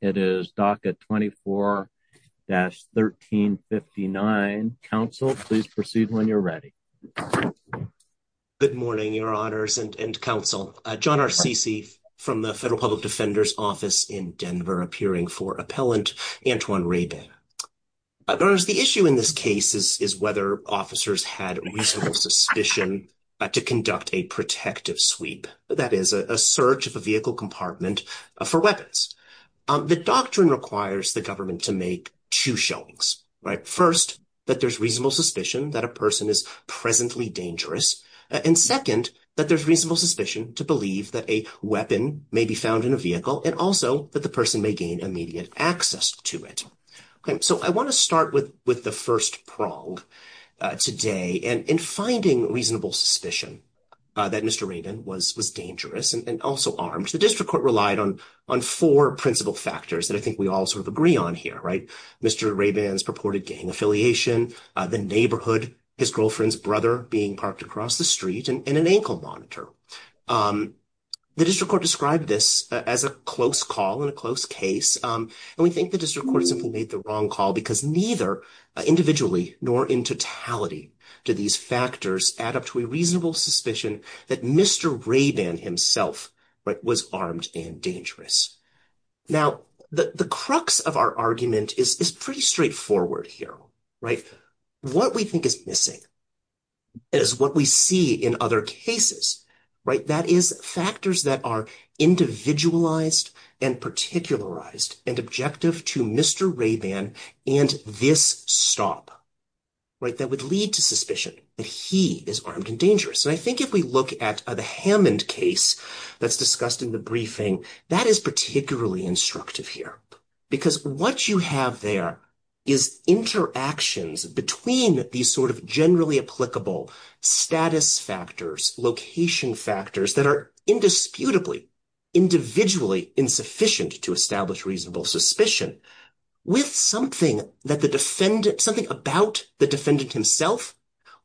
It is DACA 24-1359, counsel, please proceed when you're ready. Good morning, your honors and counsel. John Arcisi from the Federal Public Defender's Office in Denver, appearing for appellant Antoine Rabin. The issue in this case is whether officers had reasonable suspicion to conduct a protective sweep. That is a search of a vehicle compartment for weapons. The doctrine requires the government to make two showings. First, that there's reasonable suspicion that a person is presently dangerous. And second, that there's reasonable suspicion to believe that a weapon may be found in a vehicle, and also that the person may gain immediate access to it. So I want to start with the first prong today. And in finding reasonable suspicion that Mr. Rabin was dangerous and also armed, the district court relied on four principal factors that I think we all sort of agree on here, right? Mr. Rabin's purported gang affiliation, the neighborhood, his girlfriend's brother being parked across the street, and an ankle monitor. The district court described this as a close call and a close case. And we think the district court simply made the wrong call because neither individually nor in totality do these factors add up to a reasonable suspicion that Mr. Rabin himself was armed and dangerous. Now, the crux of our argument is pretty straightforward here, right? What we think is missing is what we see in other cases, right? That is factors that are individualized and particularized and objective to Mr. Rabin and this stop, right? That would lead to suspicion that he is armed and dangerous. And I think if we look at the Hammond case that's discussed in the briefing, that is particularly instructive here. Because what you have there is interactions between these sort of generally applicable status factors, location factors that are indisputably, individually insufficient to establish reasonable suspicion with something that the defendant, something about the defendant himself,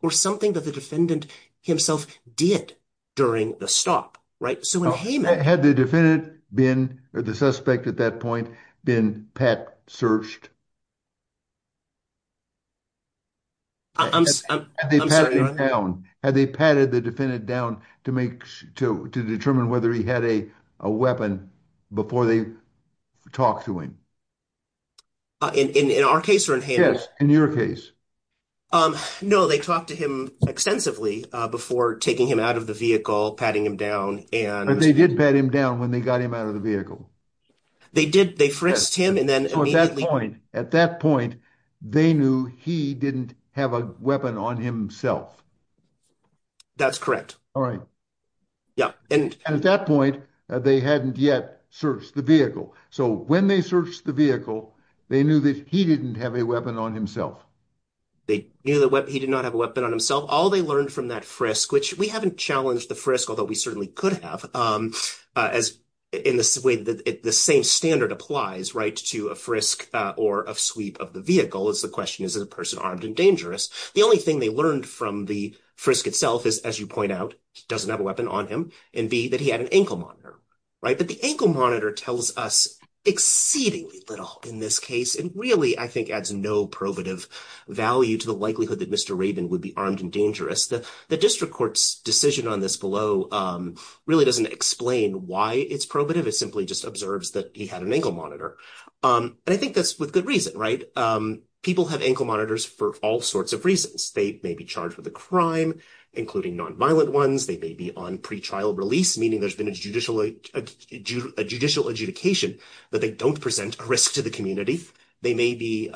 or something that the defendant himself did during the stop, right? Had the defendant been, or the suspect at that point, been pat searched? I'm sorry. Had they patted the defendant down to determine whether he had a weapon before they talked to him? In our case or in Hammond's? Yes, in your case. No, they talked to him extensively before taking him out of the vehicle, patting him down. And they did pat him down when they got him out of the vehicle. They did. They frisked him. And then at that point, they knew he didn't have a weapon on himself. That's correct. All right. Yeah. And at that point, they hadn't yet searched the vehicle. So when they searched the vehicle, they knew that he didn't have a weapon on himself. They knew that he did not have a weapon on himself. All they learned from that frisk, which we haven't challenged the frisk, although we certainly could have, as in this way, the same standard applies, right, to a frisk or a sweep of the vehicle. It's the question, is the person armed and dangerous? The only thing they learned from the frisk itself is, as you point out, he doesn't have a weapon on him, and B, that he had an ankle monitor, right? But the ankle monitor tells us exceedingly little in this case and really, I think, adds no probative value to the likelihood that Mr. Rabin would be armed and dangerous. The district court's decision on this below really doesn't explain why it's probative. It simply just observes that he had an ankle monitor. And I think that's with good reason, right? People have ankle monitors for all sorts of reasons. They may be charged with a crime, including nonviolent ones. They may be on pretrial release, meaning there's been a judicial adjudication that they don't present a risk to the community. They may be,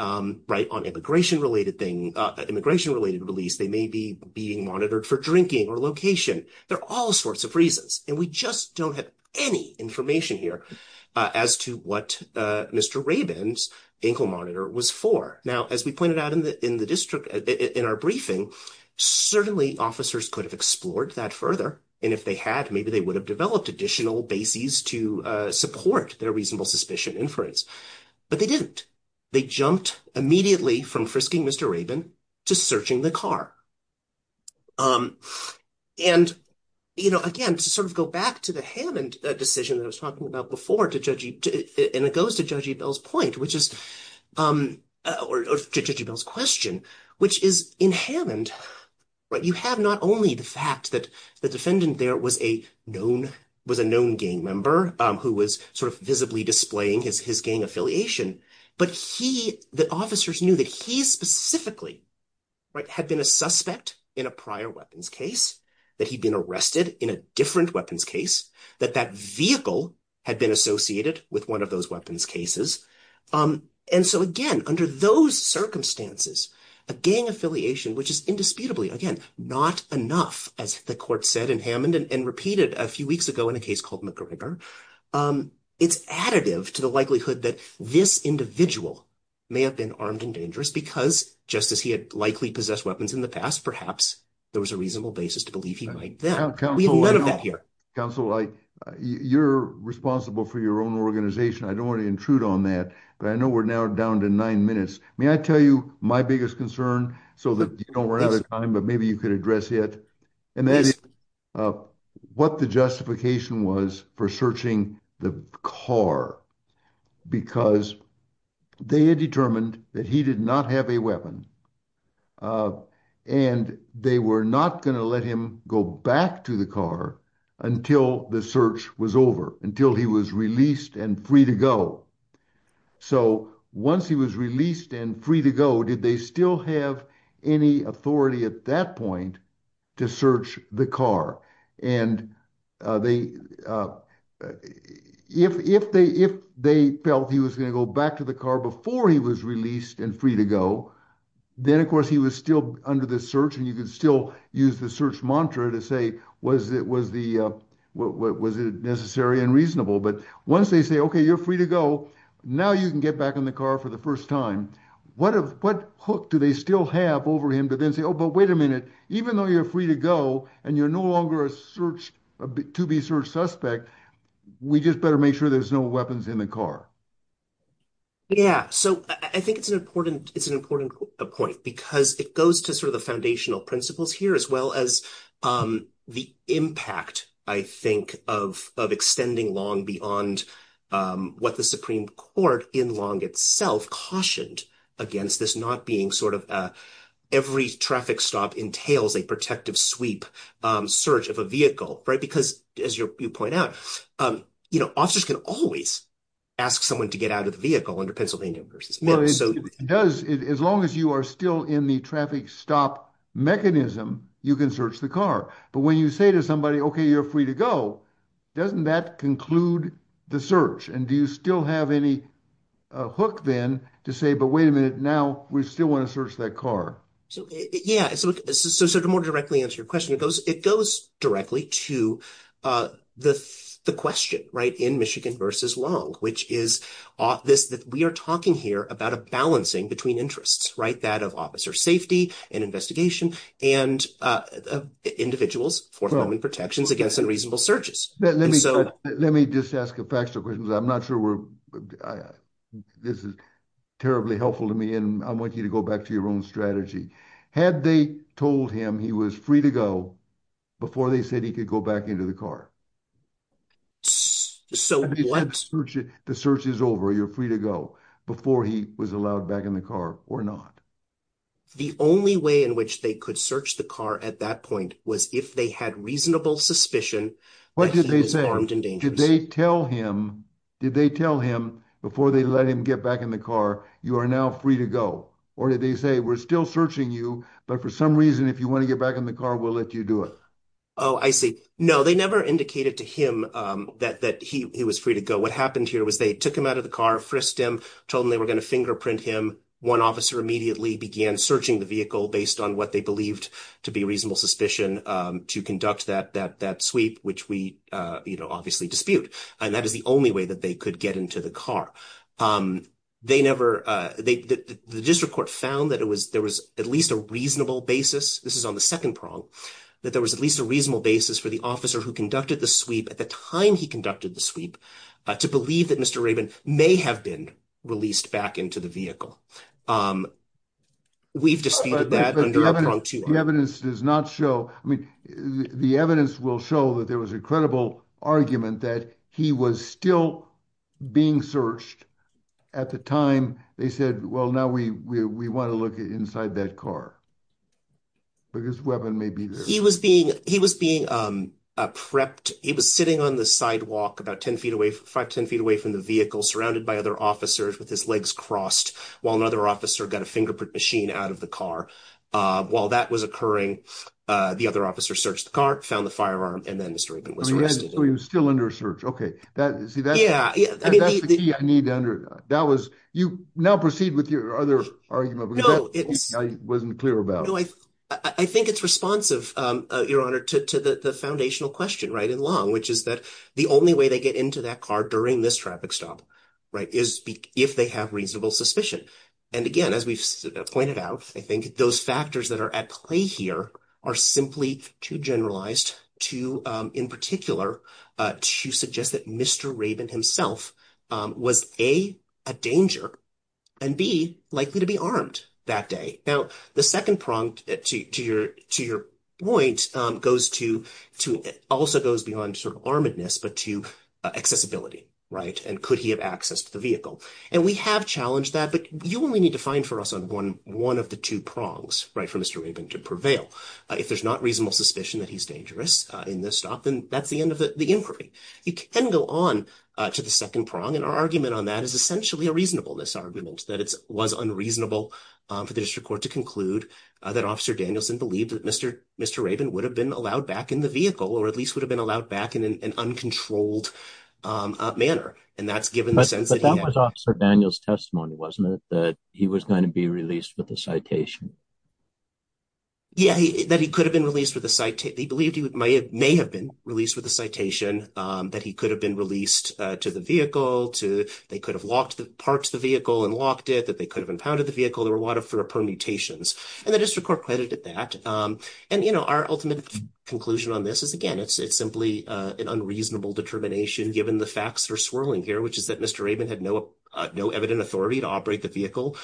right, on immigration-related release. They may be being monitored for drinking or location. There are all sorts of reasons, and we just don't have any information here as to what Mr. Rabin's ankle monitor was for. Now, as we pointed out in the district, in our briefing, certainly officers could have explored that further. And if they had, maybe they would have developed additional bases to support their reasonable suspicion inference. But they didn't. They jumped immediately from frisking Mr. Rabin to searching the car. And, you know, again, to sort of go back to the Hammond decision that I was talking about before, and it goes to Judge E. Bell's point, which is or Judge E. Bell's question, which is in Hammond, you have not only the fact that the defendant there was a known gang member who was sort of visibly displaying his gang affiliation, but he the officers knew that he specifically had been a suspect in a prior weapons case, that he'd been arrested in a different weapons case, that that vehicle had been associated with one of those weapons cases. And so, again, under those circumstances, a gang affiliation, which is indisputably, again, not enough, as the court said in Hammond and repeated a few weeks ago in a case called McGregor. It's additive to the likelihood that this individual may have been armed and dangerous because just as he had likely possessed weapons in the past, perhaps there was a reasonable basis to believe he might then. We have none of that here. Counsel, you're responsible for your own organization. I don't want to intrude on that, but I know we're now down to nine minutes. May I tell you my biggest concern so that you don't run out of time, but maybe you could address it. And that is what the justification was for searching the car, because they had determined that he did not have a weapon. And they were not going to let him go back to the car until the search was over, until he was released and free to go. So once he was released and free to go, did they still have any authority at that point to search the car? And if they felt he was going to go back to the car before he was released and free to go, then, of course, he was still under the search. And you could still use the search mantra to say, was it necessary and reasonable? But once they say, OK, you're free to go, now you can get back in the car for the first time, what hook do they still have over him to then say, oh, but wait a minute, even though you're free to go and you're no longer a to-be-searched suspect, we just better make sure there's no weapons in the car. Yeah, so I think it's an important point because it goes to sort of the foundational principles here, as well as the impact, I think, of extending Long beyond what the Supreme Court in Long itself cautioned against, this not being sort of every traffic stop entails a protective sweep search of a vehicle. Right. Because as you point out, officers can always ask someone to get out of the vehicle under Pennsylvania v. Well, it does. As long as you are still in the traffic stop mechanism, you can search the car. But when you say to somebody, OK, you're free to go, doesn't that conclude the search? And do you still have any hook then to say, but wait a minute, now we still want to search that car? Yeah. So to more directly answer your question, it goes directly to the question, right, in Michigan v. Long, which is this that we are talking here about a balancing between interests, right, that of officer safety and investigation and individuals for forming protections against unreasonable searches. Let me just ask a factual question because I'm not sure this is terribly helpful to me. And I want you to go back to your own strategy. Had they told him he was free to go before they said he could go back into the car? So what? The search is over. You're free to go before he was allowed back in the car or not. The only way in which they could search the car at that point was if they had reasonable suspicion. What did they say? Did they tell him? Did they tell him before they let him get back in the car, you are now free to go? Or did they say, we're still searching you, but for some reason, if you want to get back in the car, we'll let you do it? Oh, I see. No, they never indicated to him that he was free to go. What happened here was they took him out of the car, frisked him, told him they were going to fingerprint him. One officer immediately began searching the vehicle based on what they believed to be reasonable suspicion to conduct that that that sweep, which we obviously dispute. And that is the only way that they could get into the car. They never. The district court found that it was there was at least a reasonable basis. This is on the 2nd prong that there was at least a reasonable basis for the officer who conducted the sweep at the time he conducted the sweep to believe that Mr. Raymond may have been released back into the vehicle. We've disputed that the evidence does not show. I mean, the evidence will show that there was incredible argument that he was still being searched at the time. They said, well, now we, we want to look inside that car. Maybe he was being he was being prepped. He was sitting on the sidewalk about 10 feet away, 5, 10 feet away from the vehicle surrounded by other officers with his legs crossed while another officer got a fingerprint machine out of the car. While that was occurring, the other officer searched the car, found the firearm and then Mr. Raymond was still under search. Okay. That's the key I need to under that was you now proceed with your other argument. I wasn't clear about. I think it's responsive. Your honor to the foundational question right in long, which is that the only way they get into that car during this traffic stop. If they have reasonable suspicion, and again, as we've pointed out, I think those factors that are at play here are simply too generalized to in particular to suggest that Mr. Raymond himself was a danger and be likely to be armed that day. Now, the second prompt to your to your point goes to to also goes beyond sort of armedness, but to accessibility. Right. And could he have access to the vehicle? And we have challenged that, but you only need to find for us on 1, 1 of the 2 prongs right for Mr. Raymond to prevail. If there's not reasonable suspicion that he's dangerous in this stop, then that's the end of the inquiry. You can go on to the 2nd prong and our argument on that is essentially a reasonable this argument that it was unreasonable for the district court to conclude that officer Danielson believed that Mr. Mr. Raymond would have been allowed back in the vehicle, or at least would have been allowed back in an uncontrolled manner. And that's given the sense that Daniel's testimony wasn't it that he was going to be released with the citation. Yeah, that he could have been released with the site. He believed he may have been released with the citation that he could have been released to the vehicle to they could have locked the parts of the vehicle and locked it that they could have impounded the vehicle. There were a lot of permutations and the district court credit at that. And our ultimate conclusion on this is again, it's simply an unreasonable determination, given the facts are swirling here, which is that Mr. Raymond had an authority to operate the vehicle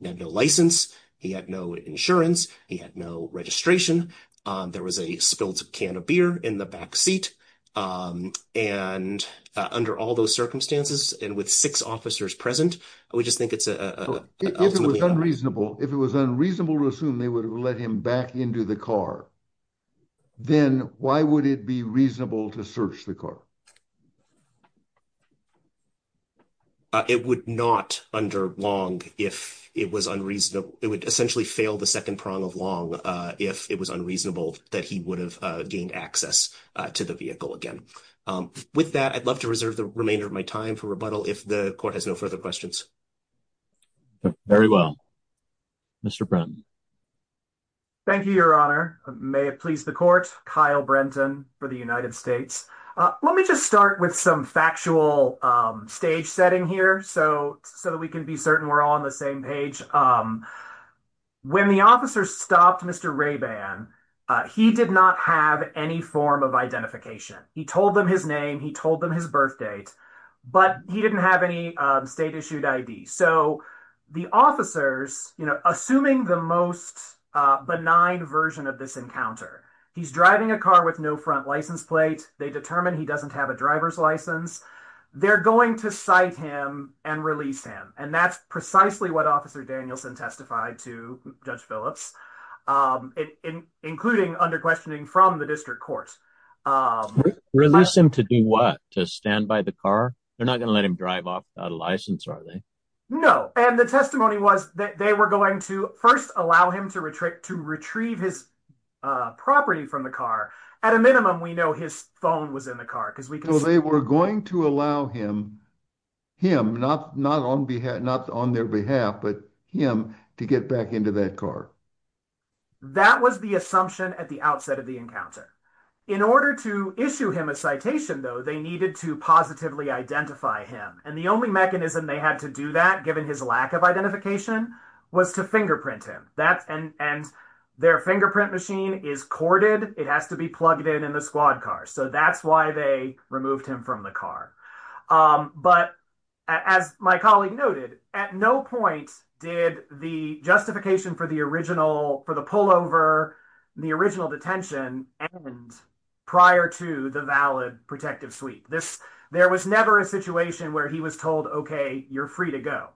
license. He had no insurance. He had no registration. There was a spilled can of beer in the back seat. And under all those circumstances, and with 6 officers present. We just think it's unreasonable if it was unreasonable to assume they would let him back into the car. Then, why would it be reasonable to search the car. It would not under long if it was unreasonable, it would essentially fail the 2nd prong of long if it was unreasonable that he would have gained access to the vehicle again with that. I'd love to reserve the remainder of my time for rebuttal. If the court has no further questions. Very well, Mr. Thank you, your honor. May it please the court Kyle Brenton for the United States. Let me just start with some factual stage setting here. So, so that we can be certain we're all on the same page. When the officer stopped Mr Ray ban, he did not have any form of identification. He told them his name. He told them his birth date. But he didn't have any state issued ID. So, the officers, you know, assuming the most benign version of this encounter. He's driving a car with no front license plate, they determine he doesn't have a driver's license. They're going to cite him and release him and that's precisely what officer Danielson testified to judge Phillips, including under questioning from the district court. Release him to do what to stand by the car. They're not going to let him drive off without a license. Are they know, and the testimony was that they were going to 1st, allow him to retreat to retrieve his property from the car. At a minimum, we know his phone was in the car because we can say we're going to allow him him not not on behalf, not on their behalf, but him to get back into that car. That was the assumption at the outset of the encounter. In order to issue him a citation, though, they needed to positively identify him. And the only mechanism they had to do that, given his lack of identification, was to fingerprint him. And their fingerprint machine is corded. It has to be plugged in in the squad car. So that's why they removed him from the car. But as my colleague noted, at no point did the justification for the original for the pullover, the original detention and prior to the valid protective sweep. This there was never a situation where he was told, OK, you're free to go.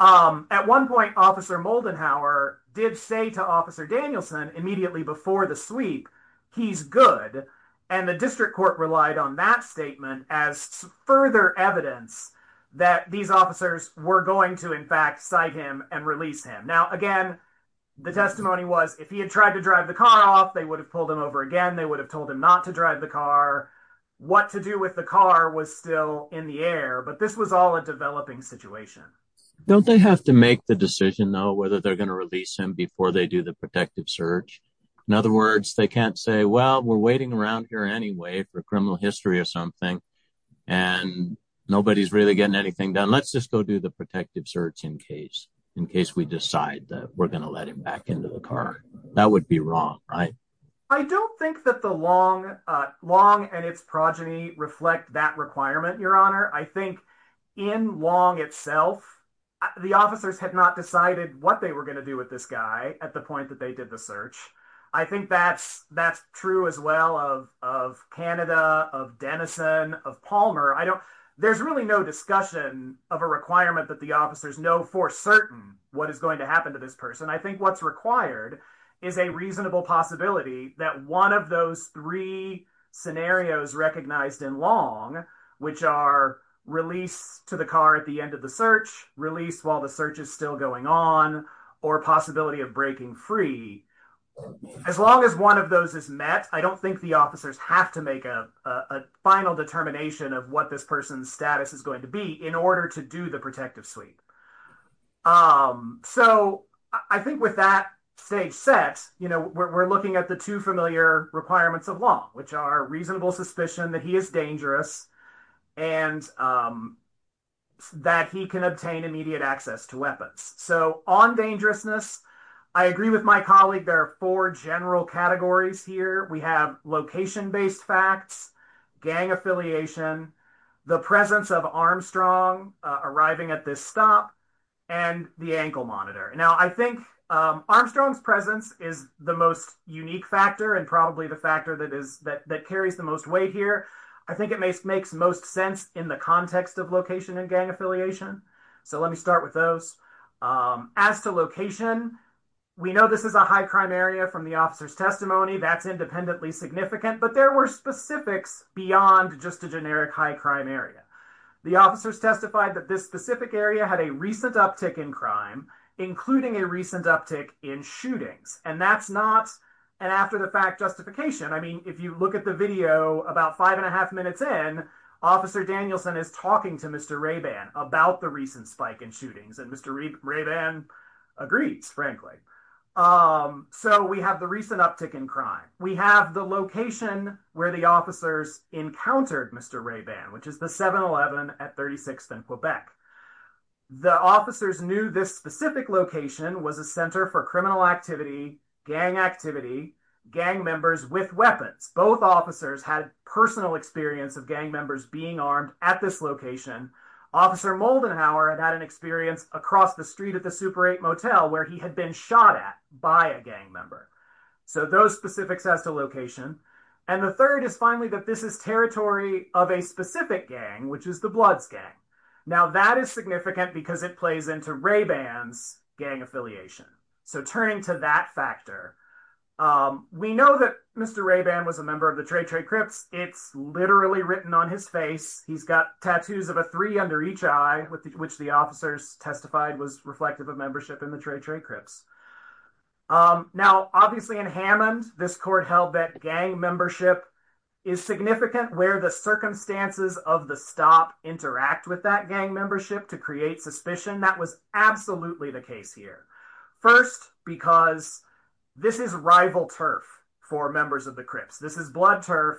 At one point, Officer Moldenhauer did say to Officer Danielson immediately before the sweep, he's good. And the district court relied on that statement as further evidence that these officers were going to, in fact, cite him and release him. Now, again, the testimony was if he had tried to drive the car off, they would have pulled him over again. They would have told him not to drive the car. What to do with the car was still in the air. But this was all a developing situation. Don't they have to make the decision, though, whether they're going to release him before they do the protective search? In other words, they can't say, well, we're waiting around here anyway for criminal history or something and nobody's really getting anything done. Let's just go do the protective search in case in case we decide that we're going to let him back into the car. That would be wrong, right? I don't think that the long long and its progeny reflect that requirement. Your Honor, I think in long itself, the officers had not decided what they were going to do with this guy at the point that they did the search. I think that's that's true as well of of Canada, of Denison, of Palmer. I don't there's really no discussion of a requirement that the officers know for certain what is going to happen to this person. I think what's required is a reasonable possibility that one of those three scenarios recognized in long, which are released to the car at the end of the search, released while the search is still going on, or possibility of breaking free. As long as one of those is met, I don't think the officers have to make a final determination of what this person's status is going to be in order to do the protective sweep. So I think with that stage set, you know, we're looking at the two familiar requirements of long, which are reasonable suspicion that he is dangerous and that he can obtain immediate access to weapons. So on dangerousness, I agree with my colleague. There are four general categories here. We have location based facts, gang affiliation, the presence of Armstrong arriving at this stop and the ankle monitor. Now, I think Armstrong's presence is the most unique factor and probably the factor that is that that carries the most weight here. I think it makes most sense in the context of location and gang affiliation. So let me start with those. As to location, we know this is a high crime area from the officer's testimony. That's independently significant, but there were specifics beyond just a generic high crime area. The officers testified that this specific area had a recent uptick in crime, including a recent uptick in shootings. And that's not an after the fact justification. I mean, if you look at the video about five and a half minutes in, Officer Danielson is talking to Mr. Raban about the recent spike in shootings and Mr. Raban agrees, frankly. So we have the recent uptick in crime. We have the location where the officers encountered Mr. Raban, which is the 7-Eleven at 36th and Quebec. The officers knew this specific location was a center for criminal activity, gang activity, gang members with weapons. Both officers had personal experience of gang members being armed at this location. Officer Moldenhauer had had an experience across the street at the Super 8 Motel where he had been shot at by a gang member. So those specifics as to location. And the third is finally that this is territory of a specific gang, which is the Bloods gang. Now that is significant because it plays into Raban's gang affiliation. So turning to that factor, we know that Mr. Raban was a member of the Trey Trey Crips. It's literally written on his face. He's got tattoos of a three under each eye, which the officers testified was reflective of membership in the Trey Trey Crips. Now, obviously in Hammond, this court held that gang membership is significant where the circumstances of the stop interact with that gang membership to create suspicion. That was absolutely the case here. First, because this is rival turf for members of the Crips. This is Blood Turf.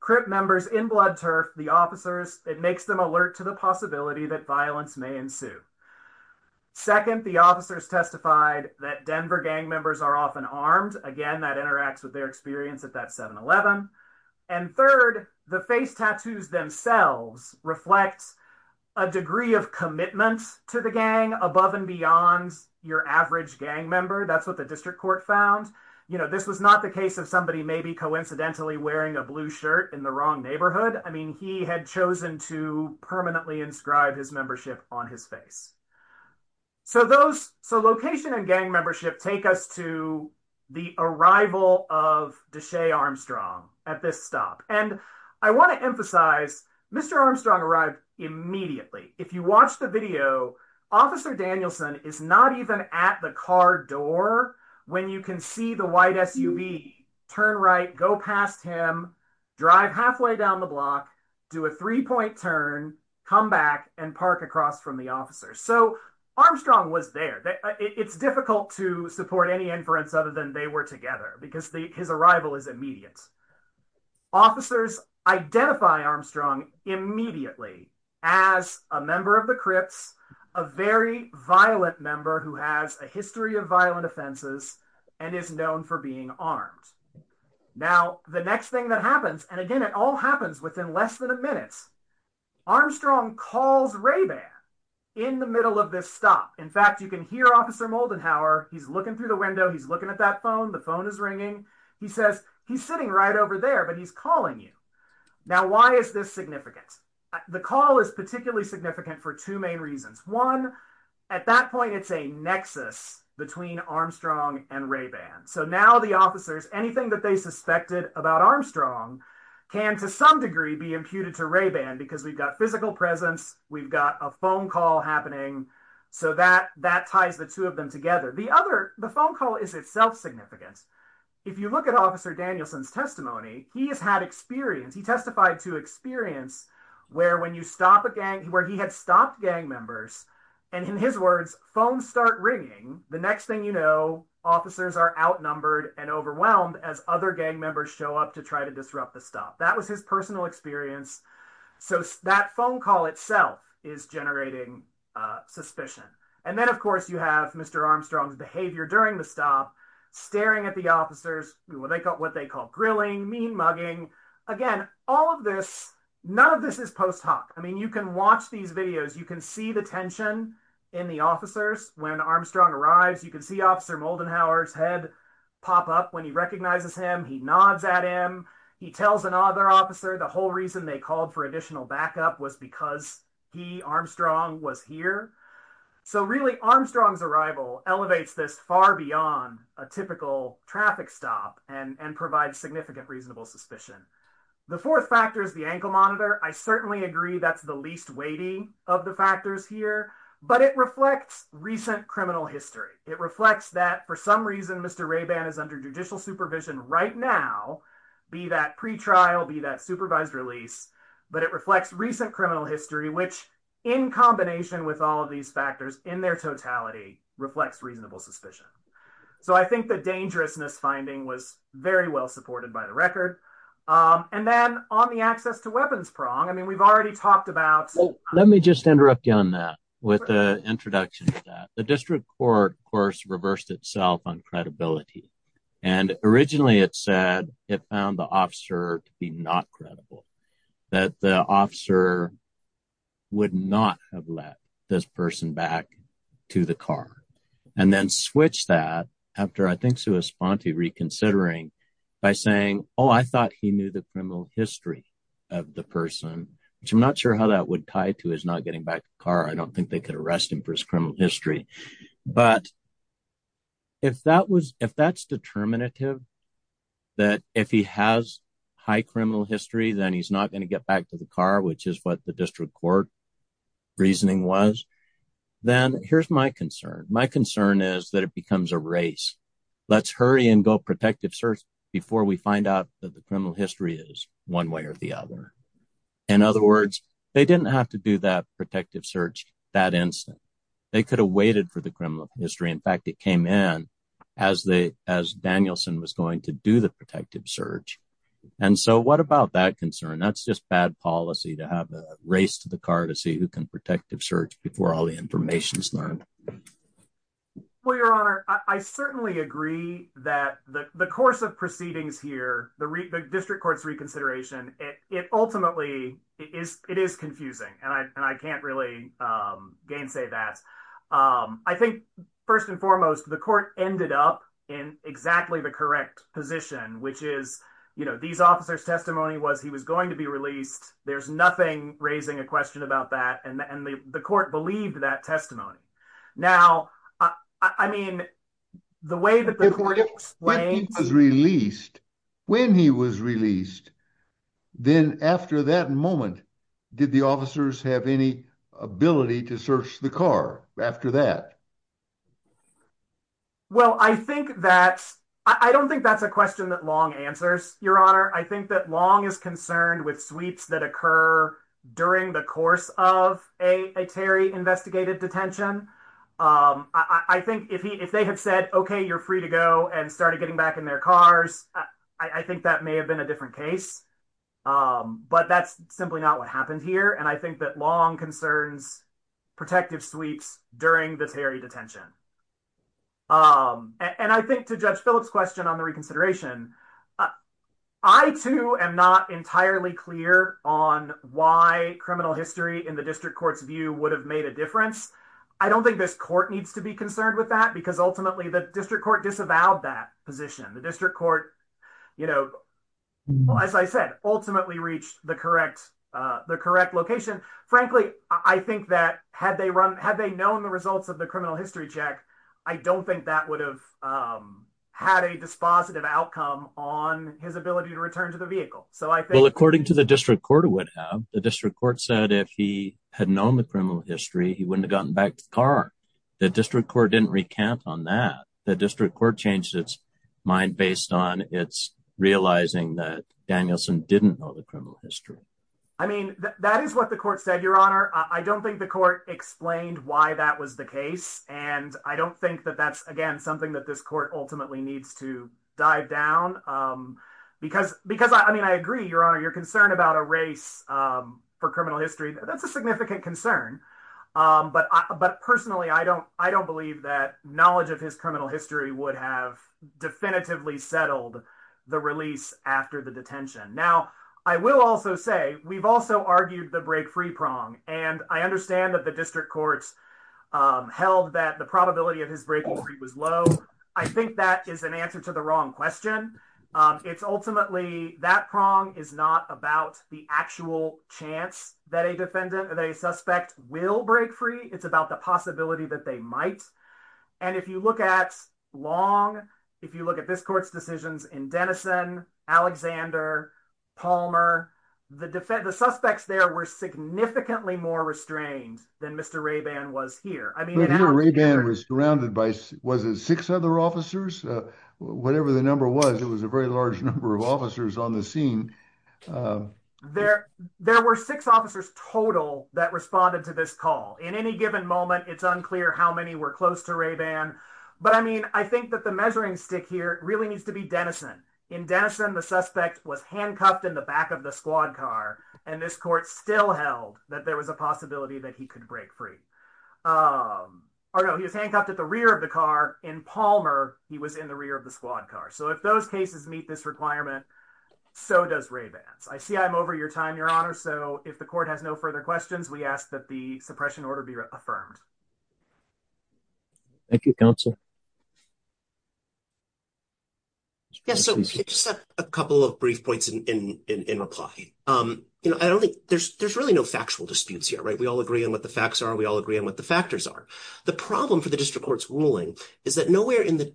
Crip members in Blood Turf, the officers, it makes them alert to the possibility that violence may ensue. Second, the officers testified that Denver gang members are often armed. Again, that interacts with their experience at that 7-Eleven. And third, the face tattoos themselves reflect a degree of commitment to the gang above and beyond your average gang member. That's what the district court found. This was not the case of somebody maybe coincidentally wearing a blue shirt in the wrong neighborhood. I mean, he had chosen to permanently inscribe his membership on his face. So location and gang membership take us to the arrival of Deshea Armstrong at this stop. And I want to emphasize, Mr. Armstrong arrived immediately. If you watch the video, Officer Danielson is not even at the car door when you can see the white SUV turn right, go past him, drive halfway down the block, do a three-point turn, come back, and park across from the officer. So Armstrong was there. It's difficult to support any inference other than they were together because his arrival is immediate. Officers identify Armstrong immediately as a member of the Crips, a very violent member who has a history of violent offenses, and is known for being armed. Now, the next thing that happens, and again, it all happens within less than a minute, Armstrong calls Ray-Ban in the middle of this stop. In fact, you can hear Officer Moldenhauer. He's looking through the window. He's looking at that phone. The phone is ringing. He says, he's sitting right over there, but he's calling you. Now, why is this significant? The call is particularly significant for two main reasons. One, at that point, it's a nexus between Armstrong and Ray-Ban. So now the officers, anything that they suspected about Armstrong can, to some degree, be imputed to Ray-Ban because we've got physical presence, we've got a phone call happening, so that ties the two of them together. The other, the phone call is itself significant. If you look at Officer Danielson's testimony, he has had experience. He testified to experience where when you stop a gang, where he had stopped gang members, and in his words, phones start ringing, the next thing you know, officers are outnumbered and overwhelmed as other gang members show up to try to disrupt the stop. That was his personal experience. So that phone call itself is generating suspicion. And then, of course, you have Mr. Armstrong's behavior during the stop, staring at the officers, what they call grilling, mean mugging. Again, all of this, none of this is post hoc. I mean, you can watch these videos. You can see the tension in the officers when Armstrong arrives. You can see Officer Moldenhauer's head pop up when he recognizes him. He nods at him. He tells another officer the whole reason they called for additional backup was because he, Armstrong, was here. So really, Armstrong's arrival elevates this far beyond a typical traffic stop and provides significant reasonable suspicion. The fourth factor is the ankle monitor. I certainly agree that's the least weighty of the factors here, but it reflects recent criminal history. It reflects that, for some reason, Mr. Raban is under judicial supervision right now, be that pretrial, be that supervised release, but it reflects recent criminal history, which, in combination with all of these factors in their totality, reflects reasonable suspicion. So I think the dangerousness finding was very well supported by the record. And then on the access to weapons prong, I mean, we've already talked about. Let me just interrupt you on that with the introduction to that. The district court, of course, reversed itself on credibility, and originally it said it found the officer to be not credible, that the officer would not have let this person back to the car, and then switch that after, I think, he knew the criminal history of the person, which I'm not sure how that would tie to his not getting back to the car. I don't think they could arrest him for his criminal history. But if that's determinative, that if he has high criminal history, then he's not going to get back to the car, which is what the district court reasoning was, then here's my concern. My concern is that it becomes a race. Let's hurry and go protective search before we find out that the criminal history is one way or the other. In other words, they didn't have to do that protective search that instant. They could have waited for the criminal history. In fact, it came in as Danielson was going to do the protective search. And so what about that concern? That's just bad policy to have a race to the car to see who can protective search before all the information is learned. Well, Your Honor, I certainly agree that the course of proceedings here, the district court's reconsideration, it ultimately is confusing, and I can't really gainsay that. I think, first and foremost, the court ended up in exactly the correct position, which is, you know, these officers testimony was he was going to be released. There's nothing raising a question about that. And the court believed that testimony. Now, I mean, the way that the court explained was released when he was released. Then after that moment, did the officers have any ability to search the car after that? Well, I think that I don't think that's a question that long answers, Your Honor. I think that long is concerned with sweeps that occur during the course of a Terry investigated detention. I think if he if they have said, OK, you're free to go and started getting back in their cars. I think that may have been a different case. But that's simply not what happened here. And I think that long concerns protective sweeps during the Terry detention. And I think to judge Phillips question on the reconsideration, I, too, am not entirely clear on why criminal history in the district court's view would have made a difference. I don't think this court needs to be concerned with that, because ultimately, the district court disavowed that position. The district court, you know, as I said, ultimately reached the correct the correct location. Frankly, I think that had they run had they known the results of the criminal history check, I don't think that would have had a dispositive outcome on his ability to return to the vehicle. So I think according to the district court would have the district court said if he had known the criminal history, he wouldn't have gotten back to the car. The district court didn't recount on that. The district court changed its mind based on its realizing that Danielson didn't know the criminal history. I mean, that is what the court said, Your Honor. I don't think the court explained why that was the case. And I don't think that that's, again, something that this court ultimately needs to dive down because because I mean, I agree, Your Honor, you're concerned about a race for criminal history. That's a significant concern. But but personally, I don't I don't believe that knowledge of his criminal history would have definitively settled the release after the detention. Now, I will also say we've also argued the break free prong. And I understand that the district courts held that the probability of his breaking free was low. I think that is an answer to the wrong question. It's ultimately that prong is not about the actual chance that a defendant or a suspect will break free. It's about the possibility that they might. And if you look at long, if you look at this court's decisions in Denison, Alexander, Palmer, the defense, the suspects there were significantly more restrained than Mr. Rayban was here. I mean, Rayban was surrounded by was it six other officers? Whatever the number was, it was a very large number of officers on the scene. There there were six officers total that responded to this call in any given moment. It's unclear how many were close to Rayban. But I mean, I think that the measuring stick here really needs to be Denison. In Denison, the suspect was handcuffed in the back of the squad car. And this court still held that there was a possibility that he could break free. Although he was handcuffed at the rear of the car in Palmer, he was in the rear of the squad car. So if those cases meet this requirement, so does Raybans. I see I'm over your time, your honor. So if the court has no further questions, we ask that the suppression order be affirmed. Thank you, counsel. Yes, so just a couple of brief points in reply. You know, I don't think there's there's really no factual disputes here. Right. We all agree on what the facts are. We all agree on what the factors are. The problem for the district court's ruling is that nowhere in the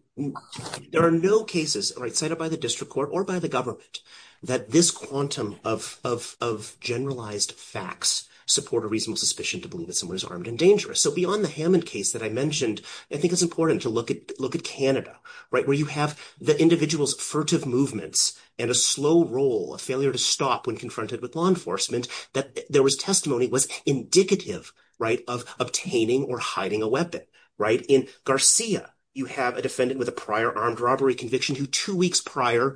there are no cases cited by the district court or by the government that this quantum of generalized facts support a reasonable suspicion to believe that someone is armed and dangerous. So beyond the Hammond case that I mentioned, I think it's important to look at look at Canada where you have the individual's furtive movements and a slow roll of failure to stop when confronted with law enforcement that there was testimony was indicative of obtaining or hiding a weapon. Right. In Garcia, you have a defendant with a prior armed robbery conviction who 2 weeks prior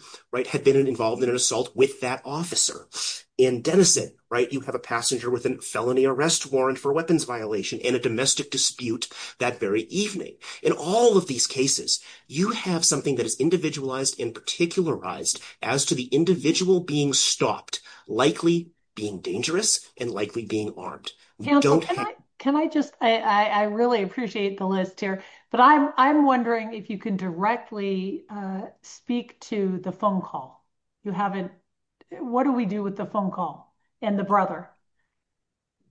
had been involved in an assault with that officer in Denison. Right. You have a passenger with a felony arrest warrant for weapons violation and a domestic dispute that very evening. In all of these cases, you have something that is individualized in particularized as to the individual being stopped, likely being dangerous and likely being armed. Can I just I really appreciate the list here, but I'm, I'm wondering if you can directly speak to the phone call. You haven't what do we do with the phone call and the brother?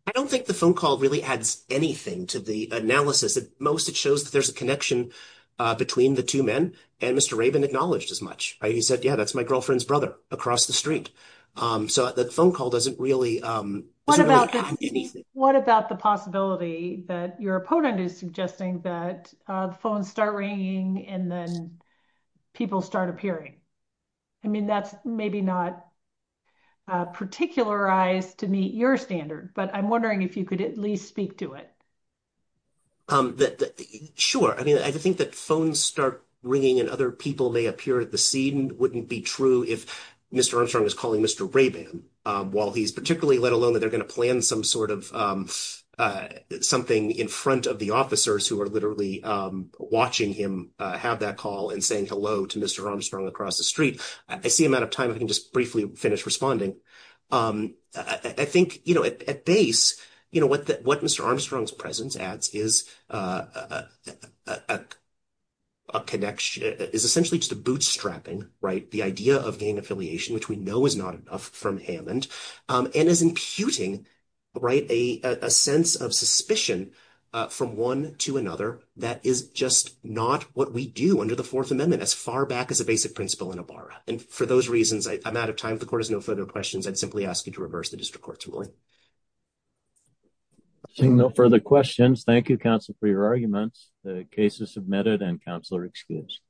I don't think the phone call really adds anything to the analysis. At most, it shows that there's a connection between the 2 men and Mr. Raven acknowledged as much. He said, yeah, that's my girlfriend's brother across the street. So the phone call doesn't really. What about the possibility that your opponent is suggesting that the phone start ringing and then people start appearing? I mean, that's maybe not. Particularized to meet your standard, but I'm wondering if you could at least speak to it. Sure, I mean, I think that phone start ringing and other people may appear at the scene wouldn't be true if Mr Armstrong is calling Mr Raven while he's particularly let alone that they're going to plan some sort of something in front of the officers who are literally watching him have that call and saying hello to Mr Armstrong across the street. I see him out of time. I can just briefly finish responding. I think at base, what Mr Armstrong's presence ads is a connection is essentially just a bootstrapping, right? The idea of gain affiliation, which we know is not enough from Hammond and is imputing right a sense of suspicion from 1 to another. That is just not what we do under the 4th amendment as far back as a basic principle in a bar. And for those reasons, I'm out of time. The court has no further questions. I'd simply ask you to reverse the district court's ruling. Seeing no further questions, thank you counsel for your arguments. The case is submitted and counselor excuse.